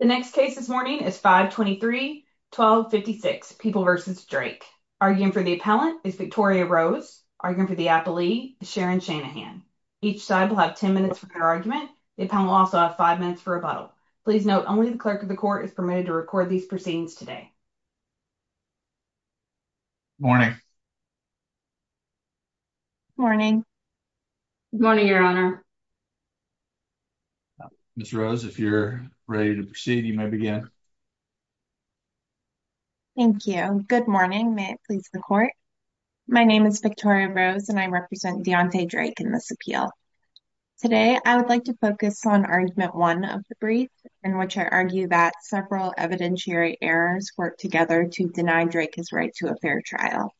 The next case this morning is 523-1256, People v. Drake. Arguing for the appellant is Victoria Rose. Arguing for the appellee is Sharon Shanahan. Each side will have 10 minutes for their argument. The appellant will also have 5 minutes for rebuttal. Please note, only the clerk of the court is permitted to record these proceedings today. Morning. Morning. Good morning, Your Honor. Ms. Rose, if you're ready to proceed, you may begin. Thank you. Good morning. May it please the court. My name is Victoria Rose, and I represent Deontay Drake in this appeal. Today, I would like to focus on Argument 1 of the brief, in which I argue that several evidentiary errors work together to deny Drake his right to a fair trial.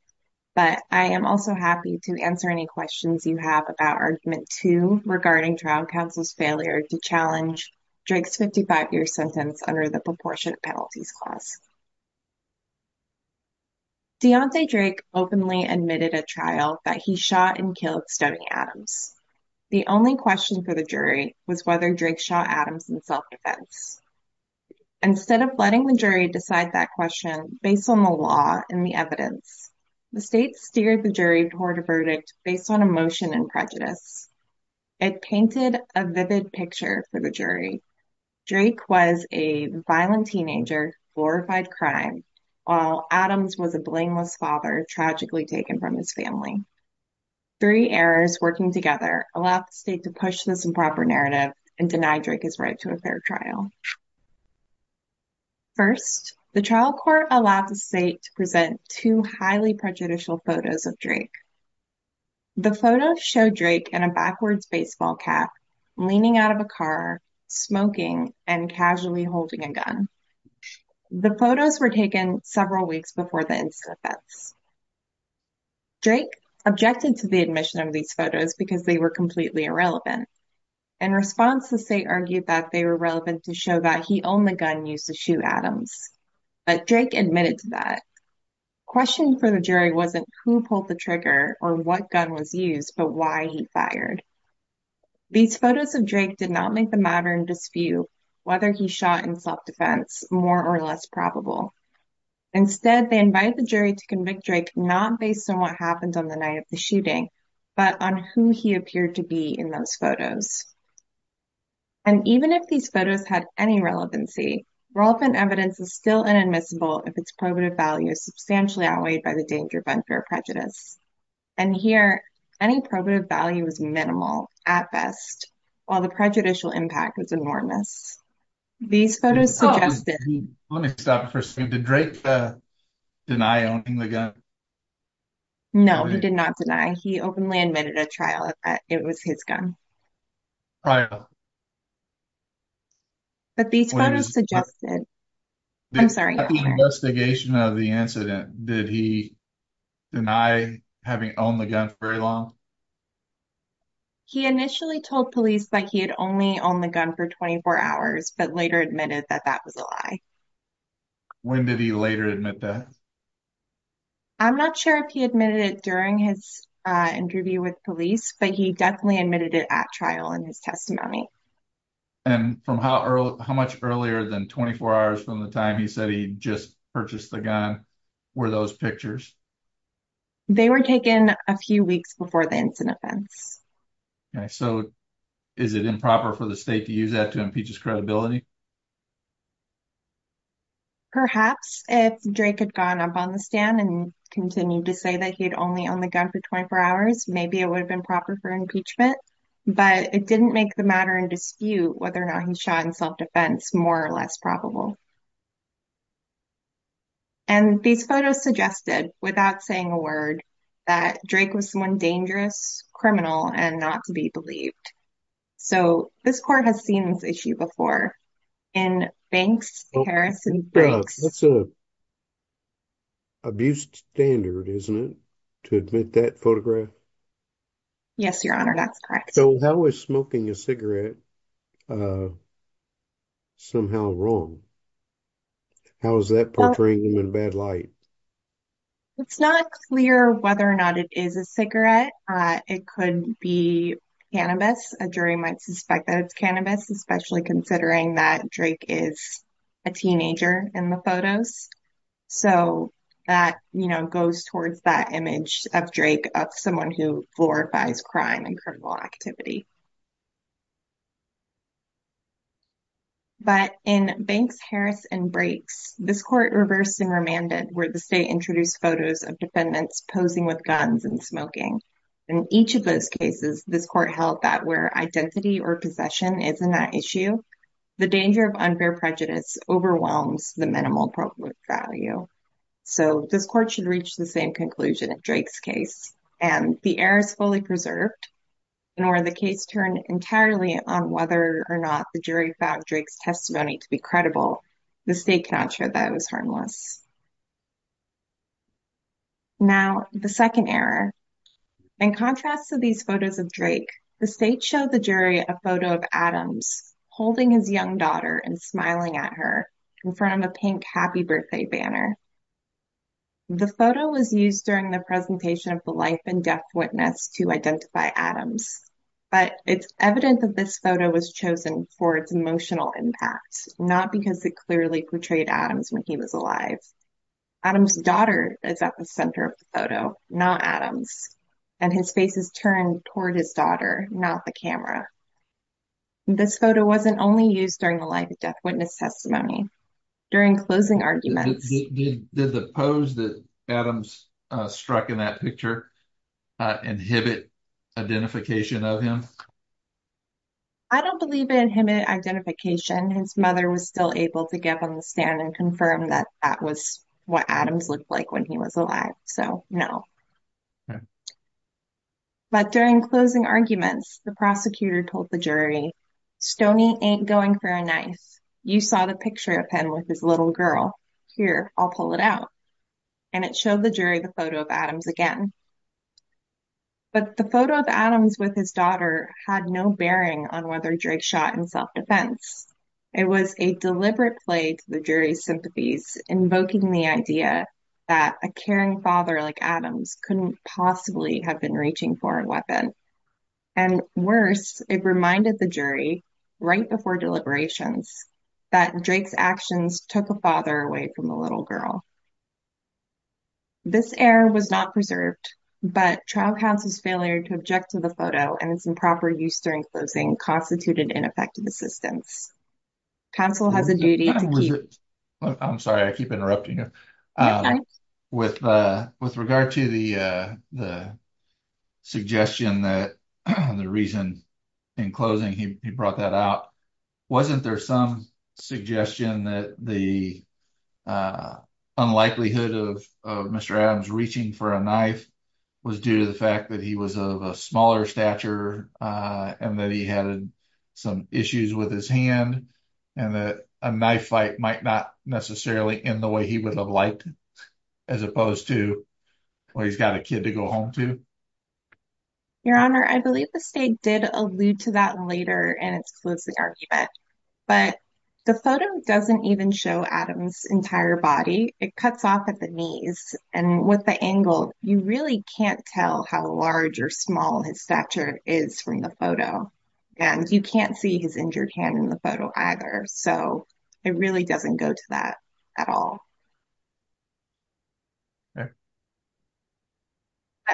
But I am also happy to answer any questions you have about Argument 2 regarding trial counsel's failure to challenge Drake's 55-year sentence under the Proportionate Penalties Clause. Deontay Drake openly admitted at trial that he shot and killed Stoney Adams. The only question for the jury was whether Drake shot Adams in self-defense. Instead of letting the jury decide that question based on the law and the evidence, the state steered the jury toward a verdict based on emotion and prejudice. It painted a vivid picture for the jury. Drake was a violent teenager who glorified crime, while Adams was a blameless father tragically taken from his family. Three errors working together allowed the state to push this improper narrative and deny Drake his right to a fair trial. First, the trial court allowed the state to present two highly prejudicial photos of Drake. The photos show Drake in a backwards baseball cap, leaning out of a car, smoking, and casually holding a gun. The photos were taken several weeks before the incident. Drake objected to the admission of these photos because they were completely irrelevant. In response, the state argued that they were relevant to show that he owned the gun used to shoot Adams, but Drake admitted to that. Question for the jury wasn't who pulled the trigger or what gun was used, but why he fired. These photos of Drake did not make the matter in dispute whether he shot in self-defense more or less probable. Instead, they invited the jury to convict Drake not based on what happened on the night of the And even if these photos had any relevancy, relevant evidence is still inadmissible if its probative value is substantially outweighed by the danger of unfair prejudice. And here, any probative value was minimal, at best, while the prejudicial impact was enormous. These photos suggested- Oh, let me stop for a second. Did Drake deny owning the gun? No, he did not deny. He openly admitted at trial that it was his gun. Right. But these photos suggested- I'm sorry. At the investigation of the incident, did he deny having owned the gun for very long? He initially told police that he had only owned the gun for 24 hours, but later admitted that that was a lie. When did he later admit that? I'm not sure if he admitted it during his interview with police, but he definitely admitted it at trial in his testimony. And how much earlier than 24 hours from the time he said he just purchased the gun were those pictures? They were taken a few weeks before the incident. Okay, so is it improper for the state to use that to impeach his credibility? Perhaps. If Drake had gone up on the stand and continued to say that he had only owned the gun for 24 hours, maybe it would have been proper for impeachment. But it didn't make the matter in dispute whether or not he shot in self-defense more or less probable. And these photos suggested, without saying a word, that Drake was someone dangerous, criminal, and not to be believed. So this court has seen this issue before. In Banks, Harris, and Briggs- That's an abuse standard, isn't it, to admit that photograph? Yes, Your Honor, that's correct. So how is smoking a cigarette somehow wrong? How is that portraying him in a bad light? It's not clear whether or not it is a cigarette. It could be cannabis. A jury might suspect that it's cannabis, especially considering that Drake is a teenager in the photos. So that, you know, goes towards that image of Drake, of someone who glorifies crime and criminal activity. But in Banks, Harris, and Briggs, this court reversed and remanded where the state introduced photos of defendants posing with guns and smoking. In each of those cases, this court held that where identity or possession is not an issue, the danger of unfair prejudice overwhelms the minimal appropriate value. So this court should reach the same conclusion in Drake's case. And the error is fully preserved. And where the case turned entirely on whether or not the jury found Drake's testimony to be credible, the state cannot show that it was harmless. Now, the second error. In contrast to these photos of Drake, the state showed the jury a photo of Adams holding his young daughter and smiling at her in front of a pink happy birthday banner. The photo was used during the presentation of the life and death witness to identify Adams. But it's evident that this photo was chosen for its emotional impact, not because it clearly portrayed Adams when he was alive. Adams' daughter is at the center of the photo, not Adams, and his face is turned toward his daughter, not the camera. This photo wasn't only used during the life and death witness testimony. During closing arguments... Did the pose that Adams struck in that picture inhibit identification of him? I don't believe it inhibited identification. His mother was still able to give him the stand and confirm that that was what Adams looked like when he was alive. So, no. But during closing arguments, the prosecutor told the jury, Stoney ain't going for a knife. You saw the picture of him with his little girl. Here, I'll pull it out. And it showed the jury the photo of Adams again. But the photo of Adams with his daughter had no bearing on whether Drake shot in self-defense. It was a deliberate play to the jury's sympathies, invoking the idea that a caring father like Adams couldn't possibly have been reaching for a weapon. And worse, it reminded the jury, right before deliberations, that Drake's actions took a father away from a little girl. This error was not preserved, but trial counsel's failure to object to the photo and its improper use during closing constituted ineffective assistance. Counsel has a duty to keep... I'm sorry, I keep interrupting. With regard to the suggestion that the reason in closing he brought that out, wasn't there some suggestion that the unlikelihood of Mr. Adams reaching for a knife was due to the fact that he was of a smaller stature and that he had some issues with his hand? And that a knife fight might not necessarily end the way he would have liked, as opposed to, well, he's got a kid to go home to? Your Honor, I believe the state did allude to that later in its closing argument. But the photo doesn't even show Adams' entire body. It cuts off at the knees. And with the angle, you really can't tell how large or small his stature is from the photo. And you can't see his injured hand in the photo either. So it really doesn't go to that at all. But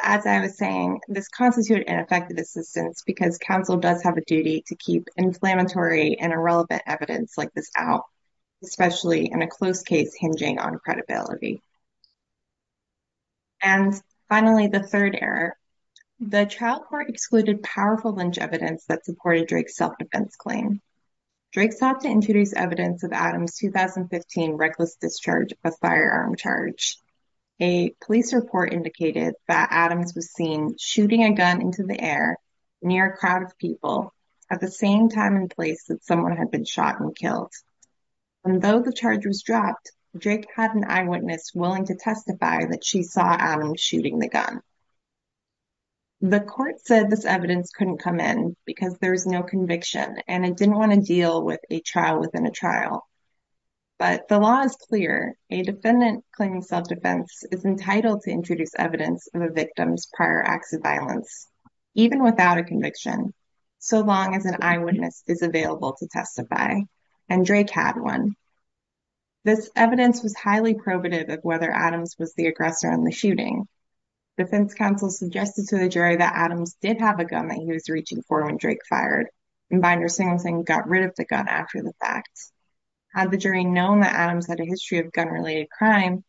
as I was saying, this constituted ineffective assistance because counsel does have a duty to keep inflammatory and irrelevant evidence like this out, especially in a closed case hinging on credibility. And finally, the third error, the trial court excluded powerful lynch evidence that supported Drake's self-defense claim. Drake sought to introduce evidence of Adams' 2015 reckless discharge of a firearm charge. A police report indicated that Adams was seen shooting a gun into the air near a crowd of people at the same time and place that someone had been shot and killed. And though the charge was dropped, Drake had an eyewitness willing to testify that she saw Adams shooting the gun. The court said this evidence couldn't come in because there was no conviction and it didn't want to deal with a trial within a trial. But the law is clear. A defendant claiming self-defense is entitled to introduce evidence of a victim's prior acts of violence, even without a conviction, so long as an eyewitness is available to testify. And Drake had one. This evidence was highly probative of whether Adams was the aggressor in the shooting. Defense counsel suggested to the jury that Adams did have a gun that he was reaching for when Drake fired. And Binder-Singleton got rid of the gun after the fact. Had the jury known that Adams had a history of gun-related crime,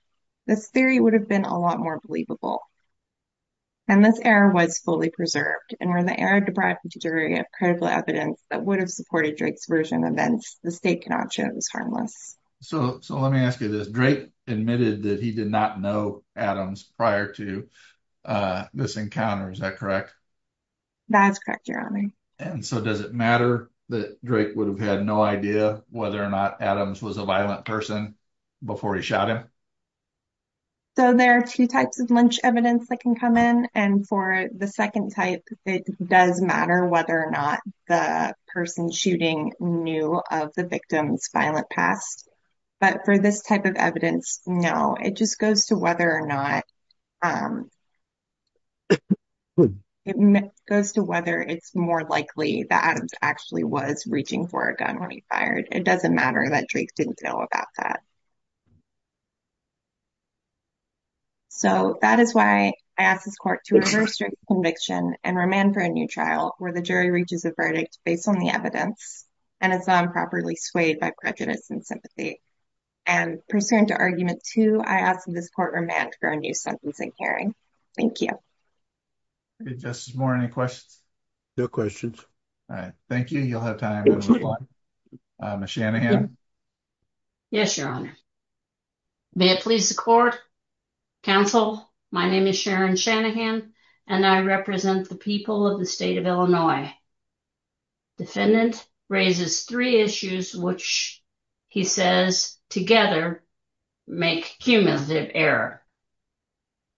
this theory would have been a lot more believable. And this error was fully preserved. And where the error deprived the jury of critical evidence that would have supported Drake's version of events, the state cannot show it was harmless. So let me ask you this. Drake admitted that he did not know Adams prior to this encounter, is that correct? That's correct, Your Honor. And so does it matter that Drake would have had no idea whether or not Adams was a violent person before he shot him? So there are two types of lynch evidence that can come in. And for the second type, it does matter whether or not the person shooting knew of the victim's violent past. But for this type of evidence, no, it just goes to whether or not it's more likely that Adams actually was reaching for a gun when he fired. It doesn't matter that Drake didn't know about that. So that is why I asked this court to reverse Drake's conviction and remand for a new trial where the jury reaches a verdict based on the evidence and is not improperly swayed by prejudice and sympathy. And pursuant to argument two, I ask that this court remand for a new sentencing hearing. Thank you. Justice Moore, any questions? No questions. All right. Thank you. You'll have time to reply. Ms. Shanahan. Yes, Your Honor. May it please the court, counsel. My name is Sharon Shanahan, and I represent the people of the state of Illinois. Defendant raises three issues, which he says together make cumulative error.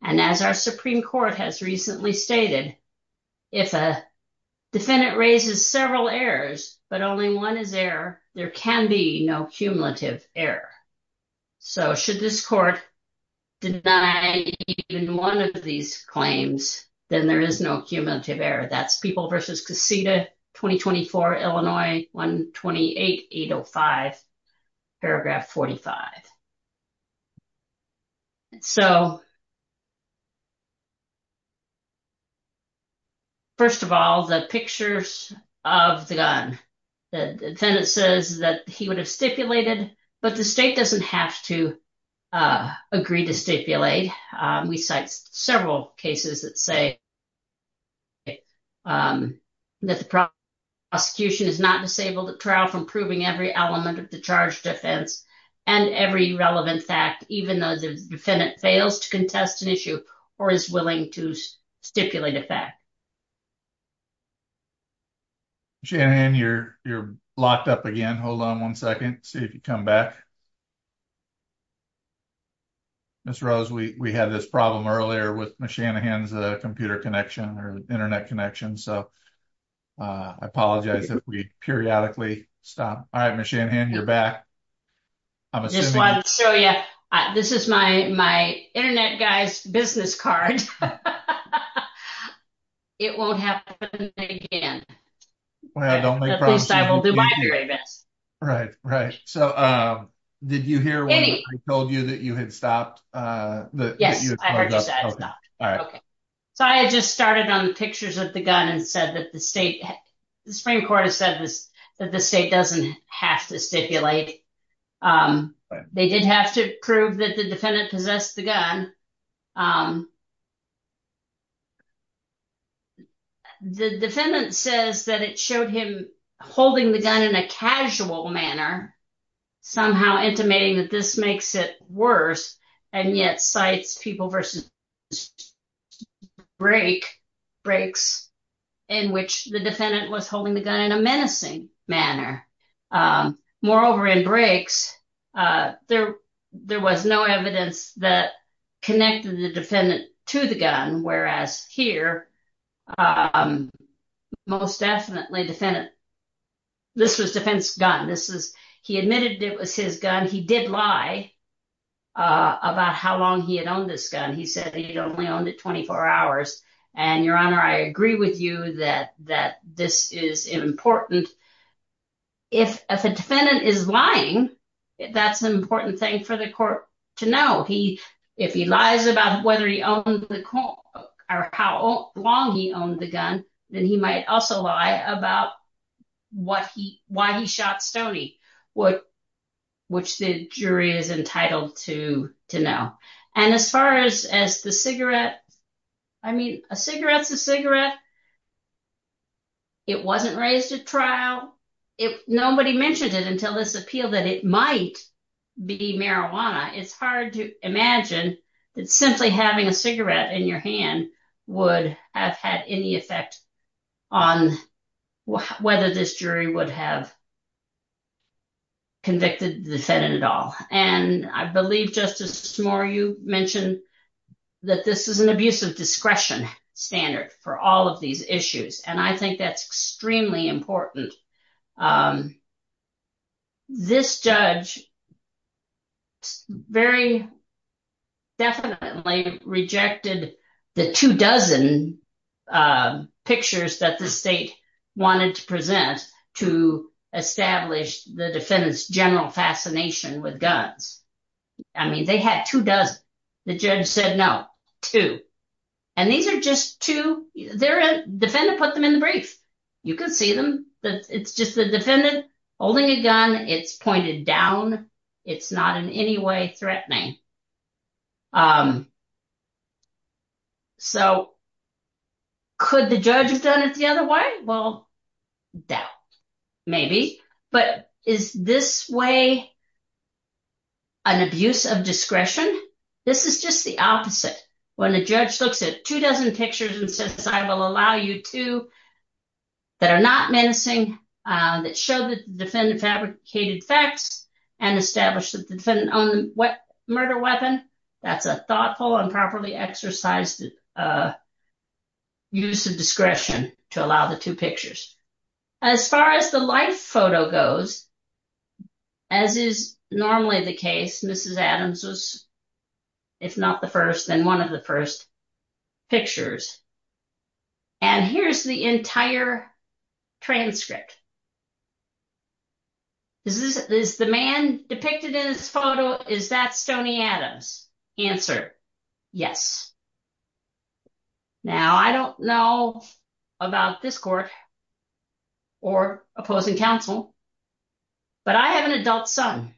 And as our Supreme Court has recently stated, if a defendant raises several errors, but only one is error, there can be no cumulative error. So should this court deny even one of these claims, then there is no cumulative error. That's People v. Casita, 2024, Illinois, 128805, paragraph 45. So first of all, the pictures of the gun. The defendant says that he would have stipulated, but the state doesn't have to agree to stipulate. We cite several cases that say that the prosecution is not disabled at trial from proving every element of the charge defense and every relevant fact, even though the defendant fails to contest an issue or is willing to stipulate a fact. Shanahan, you're locked up again. Hold on one second. See if you come back. Ms. Rose, we had this problem earlier with Shanahan's computer connection or internet connection. So I apologize if we periodically stop. All right, Ms. Shanahan, you're back. I just wanted to show you, this is my internet guy's business card. It won't happen again. Well, don't make promises. At least I will do my very best. Right, right. So did you hear when I told you that you had stopped? Yes, I heard you say I was locked. All right. So I had just started on the pictures of the gun and said that the state, the Supreme Court has said that the state doesn't have to stipulate. They did have to prove that the defendant possessed the gun. The defendant says that it showed him holding the gun in a casual manner, somehow intimating that this makes it worse, and yet cites people versus breaks in which the defendant was holding the gun in a menacing manner. Moreover, in breaks, there was no evidence that connected the defendant to the gun, whereas here, most definitely defendant, this was defense gun. He admitted it was his gun. He did lie about how long he had owned this gun. He said he'd only owned it 24 hours. And Your Honor, I agree with you that this is important. If a defendant is lying, that's an important thing for the court to know. If he lies about whether he owned the gun or how long he owned the gun, then he might also lie about why he shot Stoney, which the jury is entitled to know. And as far as the cigarette, I mean, a cigarette's a cigarette. It wasn't raised at trial. If nobody mentioned it until this appeal that it might be marijuana, it's hard to imagine that simply having a cigarette in your hand would have had any effect on whether this jury would have convicted the defendant at all. And I believe, Justice Moore, you mentioned that this is an abuse of discretion standard for all of these issues. And I think that's extremely important. This judge very definitely rejected the two dozen pictures that the state wanted to present to establish the defendant's general fascination with guns. I mean, they had two dozen. The judge said, no, two. And these are just two. The defendant put them in the brief. You can see them. It's just the defendant holding a gun. It's pointed down. It's not in any way threatening. So could the judge have done it the other way? Well, doubt. Maybe. But is this way an abuse of discretion? This is just the opposite. When a judge looks at two dozen pictures and says, I will allow you two that are not menacing, that show the defendant fabricated facts and established that the defendant owned a murder weapon, that's a thoughtful and properly exercised use of discretion to allow the two pictures. As far as the life photo goes, as is normally the case, Mrs. Adams was, if not the first, then one of the first pictures. And here's the entire transcript. Is the man depicted in this photo, is that Stoney Adams? Answer, yes. Now, I don't know about this court or opposing counsel, but I have an adult son.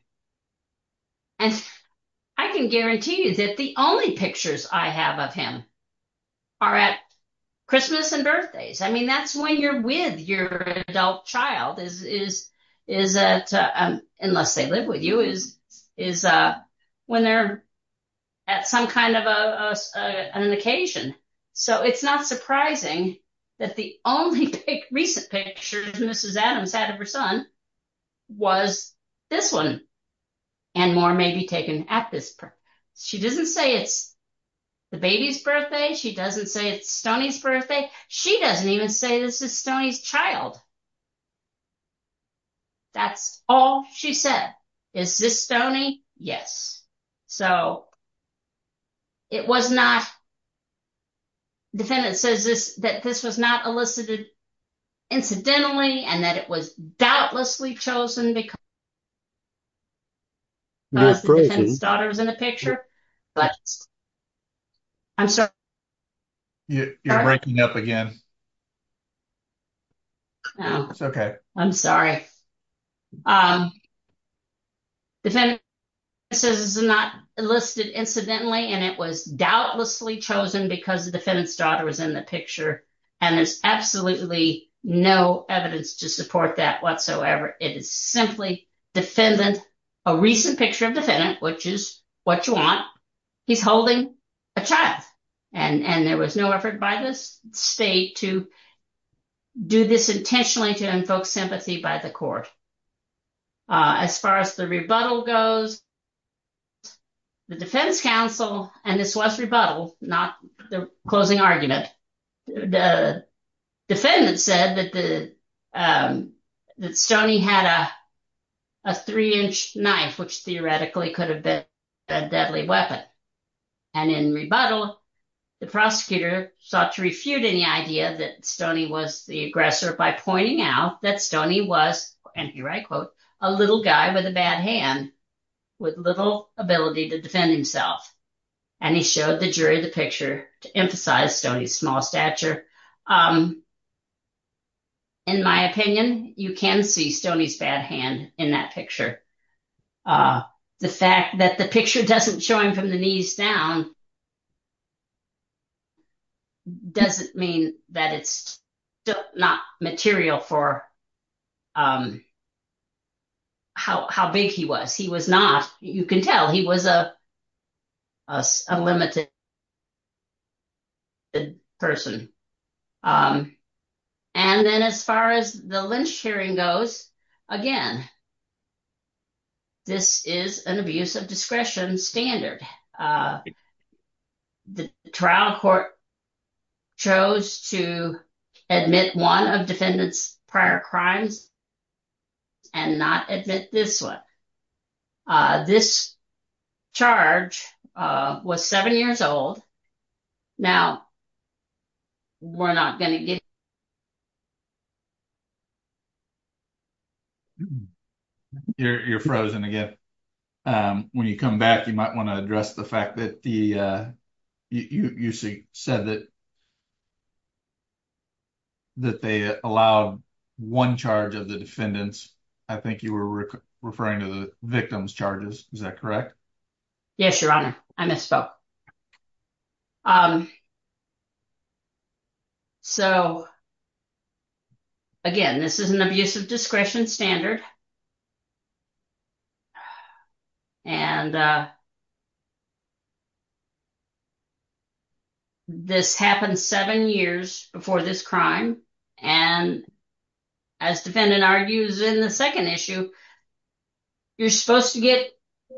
And I can guarantee you that the only pictures I have of him are at Christmas and birthdays. I mean, that's when you're with your adult child, unless they live with you, is when they're at some kind of an occasion. So it's not surprising that the only recent picture Mrs. Adams had of her son was this and more may be taken at this point. She doesn't say it's the baby's birthday. She doesn't say it's Stoney's birthday. She doesn't even say this is Stoney's child. That's all she said. Is this Stoney? Yes. So it was not, defendant says that this was not elicited incidentally and that it was doubtlessly chosen because the defendant's daughter was in the picture. You're breaking up again. No, I'm sorry. Defendant says it's not listed incidentally and it was doubtlessly chosen because the defendant's daughter was in the picture. And there's absolutely no evidence to support that. It is simply defendant, a recent picture of defendant, which is what you want. He's holding a child and there was no effort by this state to do this intentionally to invoke sympathy by the court. As far as the rebuttal goes, the defense counsel, and this was rebuttal, not the closing argument. The defendant said that Stoney had a three-inch knife, which theoretically could have been a deadly weapon. And in rebuttal, the prosecutor sought to refute any idea that Stoney was the aggressor by pointing out that Stoney was, and here I quote, a little guy with a bad hand with little ability to defend himself. And he showed the jury the picture to emphasize Stoney's small stature. In my opinion, you can see Stoney's bad hand in that picture. The fact that the picture doesn't show him from the knees down doesn't mean that it's not material for how big he was. You can tell he was a limited person. And then as far as the lynch hearing goes, again, this is an abuse of discretion standard. The trial court chose to admit one of defendant's prior crimes and not admit this one. This charge was seven years old. Now, we're not going to get. You're frozen again. When you come back, you might want to address the fact that you said that they allowed one charge of the defendants. I think you were referring to the victim's charges. Is that correct? Yes, your honor. I misspoke. So again, this is an abuse of discretion standard. And this happened seven years before this crime. And as defendant argues in the second issue, you're supposed to get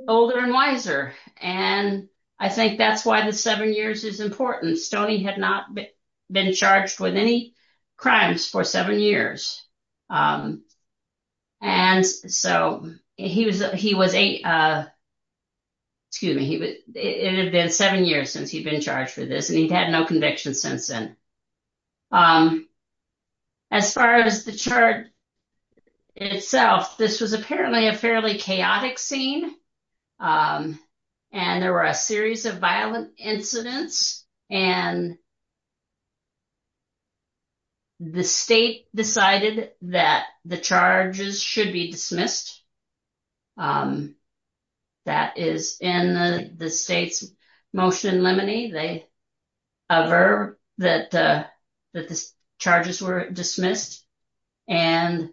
older and wiser. And I think that's why the seven years is important. Stoney had not been charged with any crimes for seven years. And so he was eight, excuse me, it had been seven years since he'd been charged for this, and he'd had no conviction since then. As far as the chart itself, this was apparently a fairly chaotic scene. And there were a series of violent incidents. And the state decided that the charges should be dismissed. That is in the state's motion in limine, a verb that the charges were dismissed. At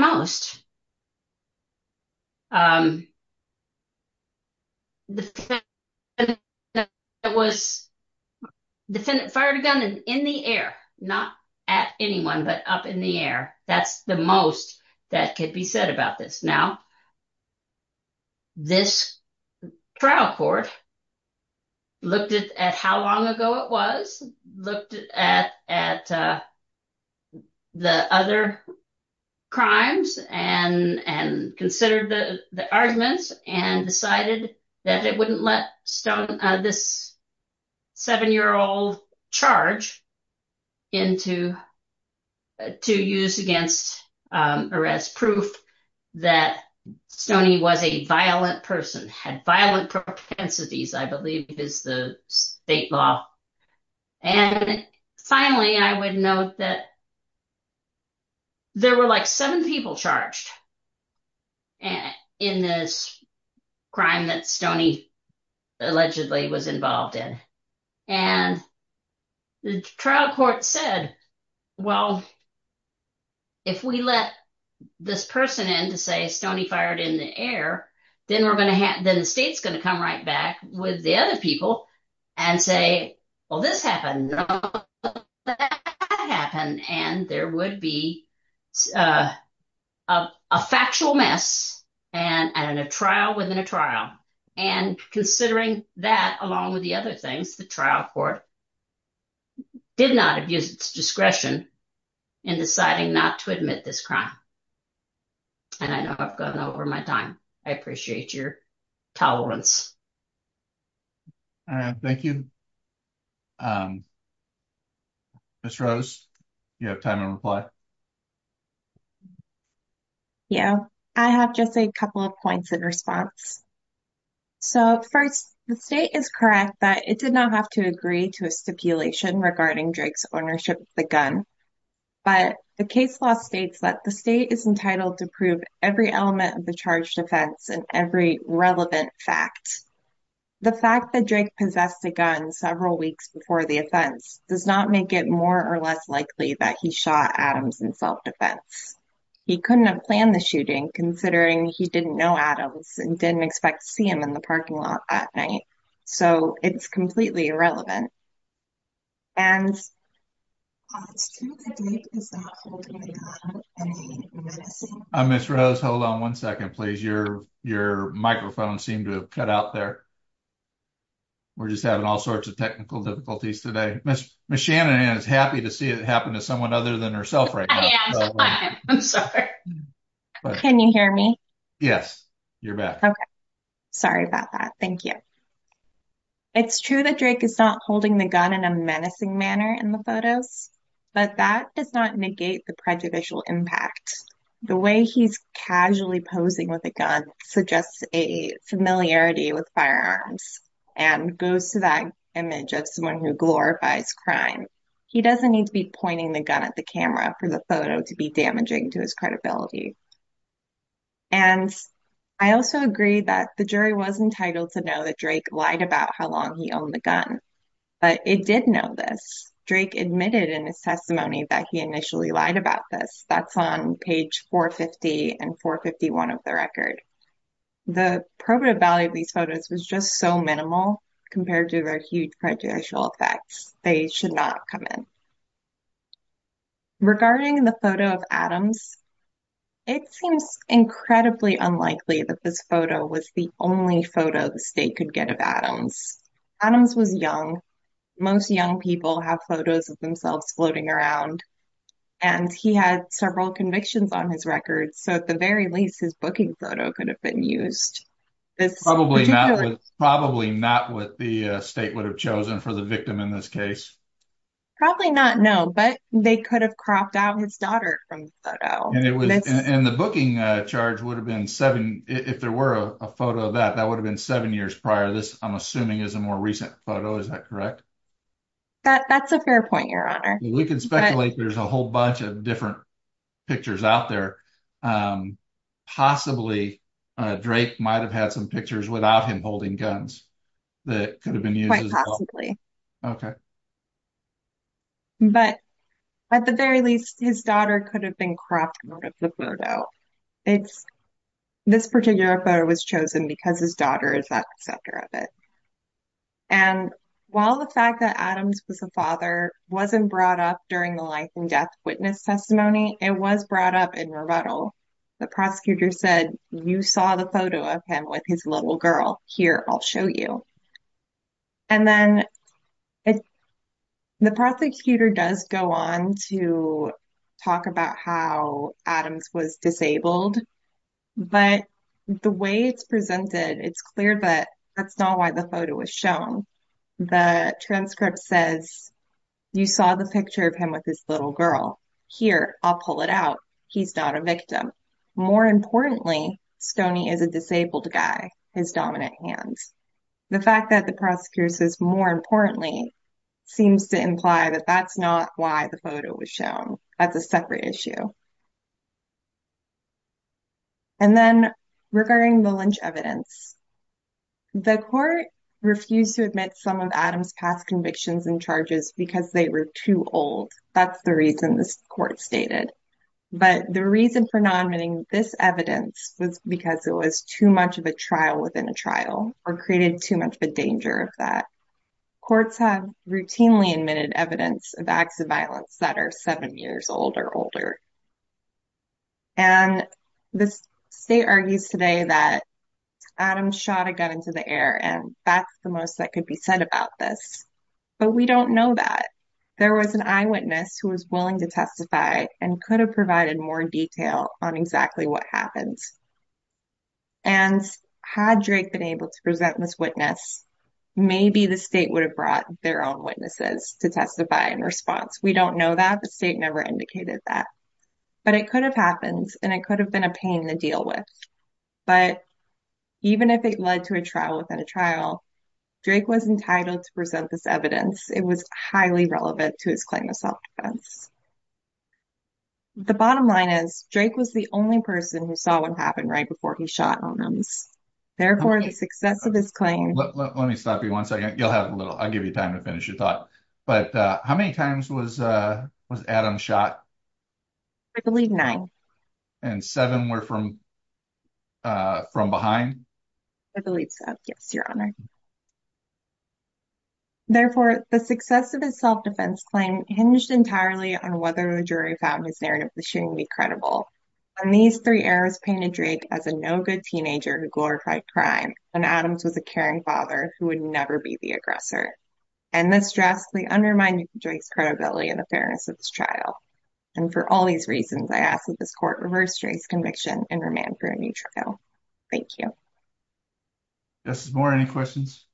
most, the defendant fired a gun in the air, not at anyone, but up in the air. That's the most that could be said about this. Now, this trial court looked at how long ago it was, looked at the other crimes, and considered the arguments, and decided that it wouldn't let this seven-year-old charge into, to use against arrest proof that Stoney was a violent person, had violent propensities, I believe is the state law. And finally, I would note that there were like seven people charged in this crime that Stoney allegedly was involved in. And the trial court said, well, if we let this person in to say Stoney fired in the air, then we're going to have, then the state's going to come right back with the other people and say, well, this happened, that happened. And there would be a factual mess and a trial within a trial. And considering that, along with the other things, the trial court did not abuse its discretion in deciding not to admit this crime. And I know I've gone over my time. I appreciate your tolerance. All right, thank you. Ms. Rose, do you have time to reply? Yeah, I have just a couple of points in response. So first, the state is correct that it did not have to agree to a stipulation regarding Drake's ownership of the gun. But the case law states that the state is entitled to prove every element of the charge defense and every relevant fact. The fact that Drake possessed a gun several weeks before the offense does not make it more or less likely that he shot Adams in self-defense. He couldn't have planned the shooting considering he didn't know Adams and didn't expect to see him in the parking lot that night. So it's completely irrelevant. And it's true that Drake is not holding on to any menacing evidence. Ms. Rose, hold on one second, please. Your microphone seemed to have cut out there. We're just having all sorts of technical difficulties today. Ms. Shannon is happy to see it happen to someone other than herself right now. I am, I am. I'm sorry. Can you hear me? Yes, you're back. Okay. Sorry about that. Thank you. It's true that Drake is not holding the gun in a menacing manner in the photos, but that does not negate the prejudicial impact. The way he's casually posing with a gun suggests a familiarity with firearms and goes to that image of someone who glorifies crime. He doesn't need to be pointing the gun at the camera for the photo to be damaging to his credibility. And I also agree that the jury was entitled to know that Drake lied about how long he owned the gun. But it did know this. Drake admitted in his testimony that he initially lied about this. That's on page 450 and 451 of the record. The probative value of these photos was just so minimal compared to their huge prejudicial effects. They should not come in. Regarding the photo of Adams, it seems incredibly unlikely that this photo was the only photo the state could get of Adams. Adams was young. Most young people have photos of themselves floating around. And he had several convictions on his record. So at the very least, his booking photo could have been used. Probably not what the state would have chosen for the victim in this case. Probably not, no. But they could have cropped out his daughter from the photo. And the booking charge would have been seven, if there were a photo of that, that would have been seven years prior to this, I'm assuming, is a more recent photo. Is that correct? That's a fair point, your honor. We can speculate there's a whole bunch of different pictures out there. Possibly, Drake might have had some pictures without him holding guns that could have been used as well. Okay. But at the very least, his daughter could have been cropped out of the photo. This particular photo was chosen because his daughter is at the center of it. And while the fact that Adams was a father wasn't brought up during the life and death witness testimony, it was brought up in rebuttal. The prosecutor said, you saw the photo of him with his little girl. Here, I'll show you. And then the prosecutor does go on to talk about how Adams was disabled. But the way it's presented, it's clear that that's not why the photo was shown. The transcript says, you saw the picture of him with his little girl. Here, I'll pull it out. He's not a victim. More importantly, Stoney is a disabled guy, his dominant hand. The fact that the prosecutor says, more importantly, seems to imply that that's not why the photo was shown. That's a separate issue. And then regarding the Lynch evidence, the court refused to admit some of Adams' past convictions and charges because they were too old. That's the reason this court stated. But the reason for not admitting this evidence was because it was too much of a trial within a trial, or created too much of a danger of that. Courts have routinely admitted evidence of acts of violence that are seven years old or older. And the state argues today that Adams shot a gun into the air, and that's the most that could be said about this. But we don't know that. There was an eyewitness who was willing to testify and could have provided more detail on exactly what happened. And had Drake been able to present this witness, maybe the state would have brought their own witnesses to testify in response. We don't know that. The state never indicated that. But it could have happened, and it could have been a pain to deal with. But even if it led to a trial within a trial, Drake was entitled to present this evidence. It was highly relevant to his claim of self-defense. The bottom line is, he saw what happened right before he shot Adams. Therefore, the success of his claim hinged entirely on whether the jury found his narrative of the shooting to be credible. These three errors painted Drake as a no-good teenager who glorified crime, and Adams was a caring father who would never be the aggressor. And this drastically undermined Drake's credibility and the fairness of this trial. And for all these reasons, I ask that this court reverse Drake's conviction and remand for a new trial. Thank you. Justice Moore, any questions?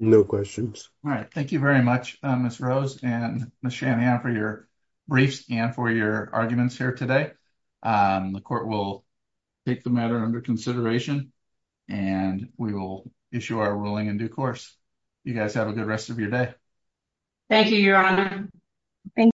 No questions. All right. Thank you very much, Ms. Rose and Ms. Shanahan, for your briefs and for your arguments here today. The court will take the matter under consideration, and we will issue our ruling in due course. You guys have a good rest of your day. Thank you, Your Honor. Thank you.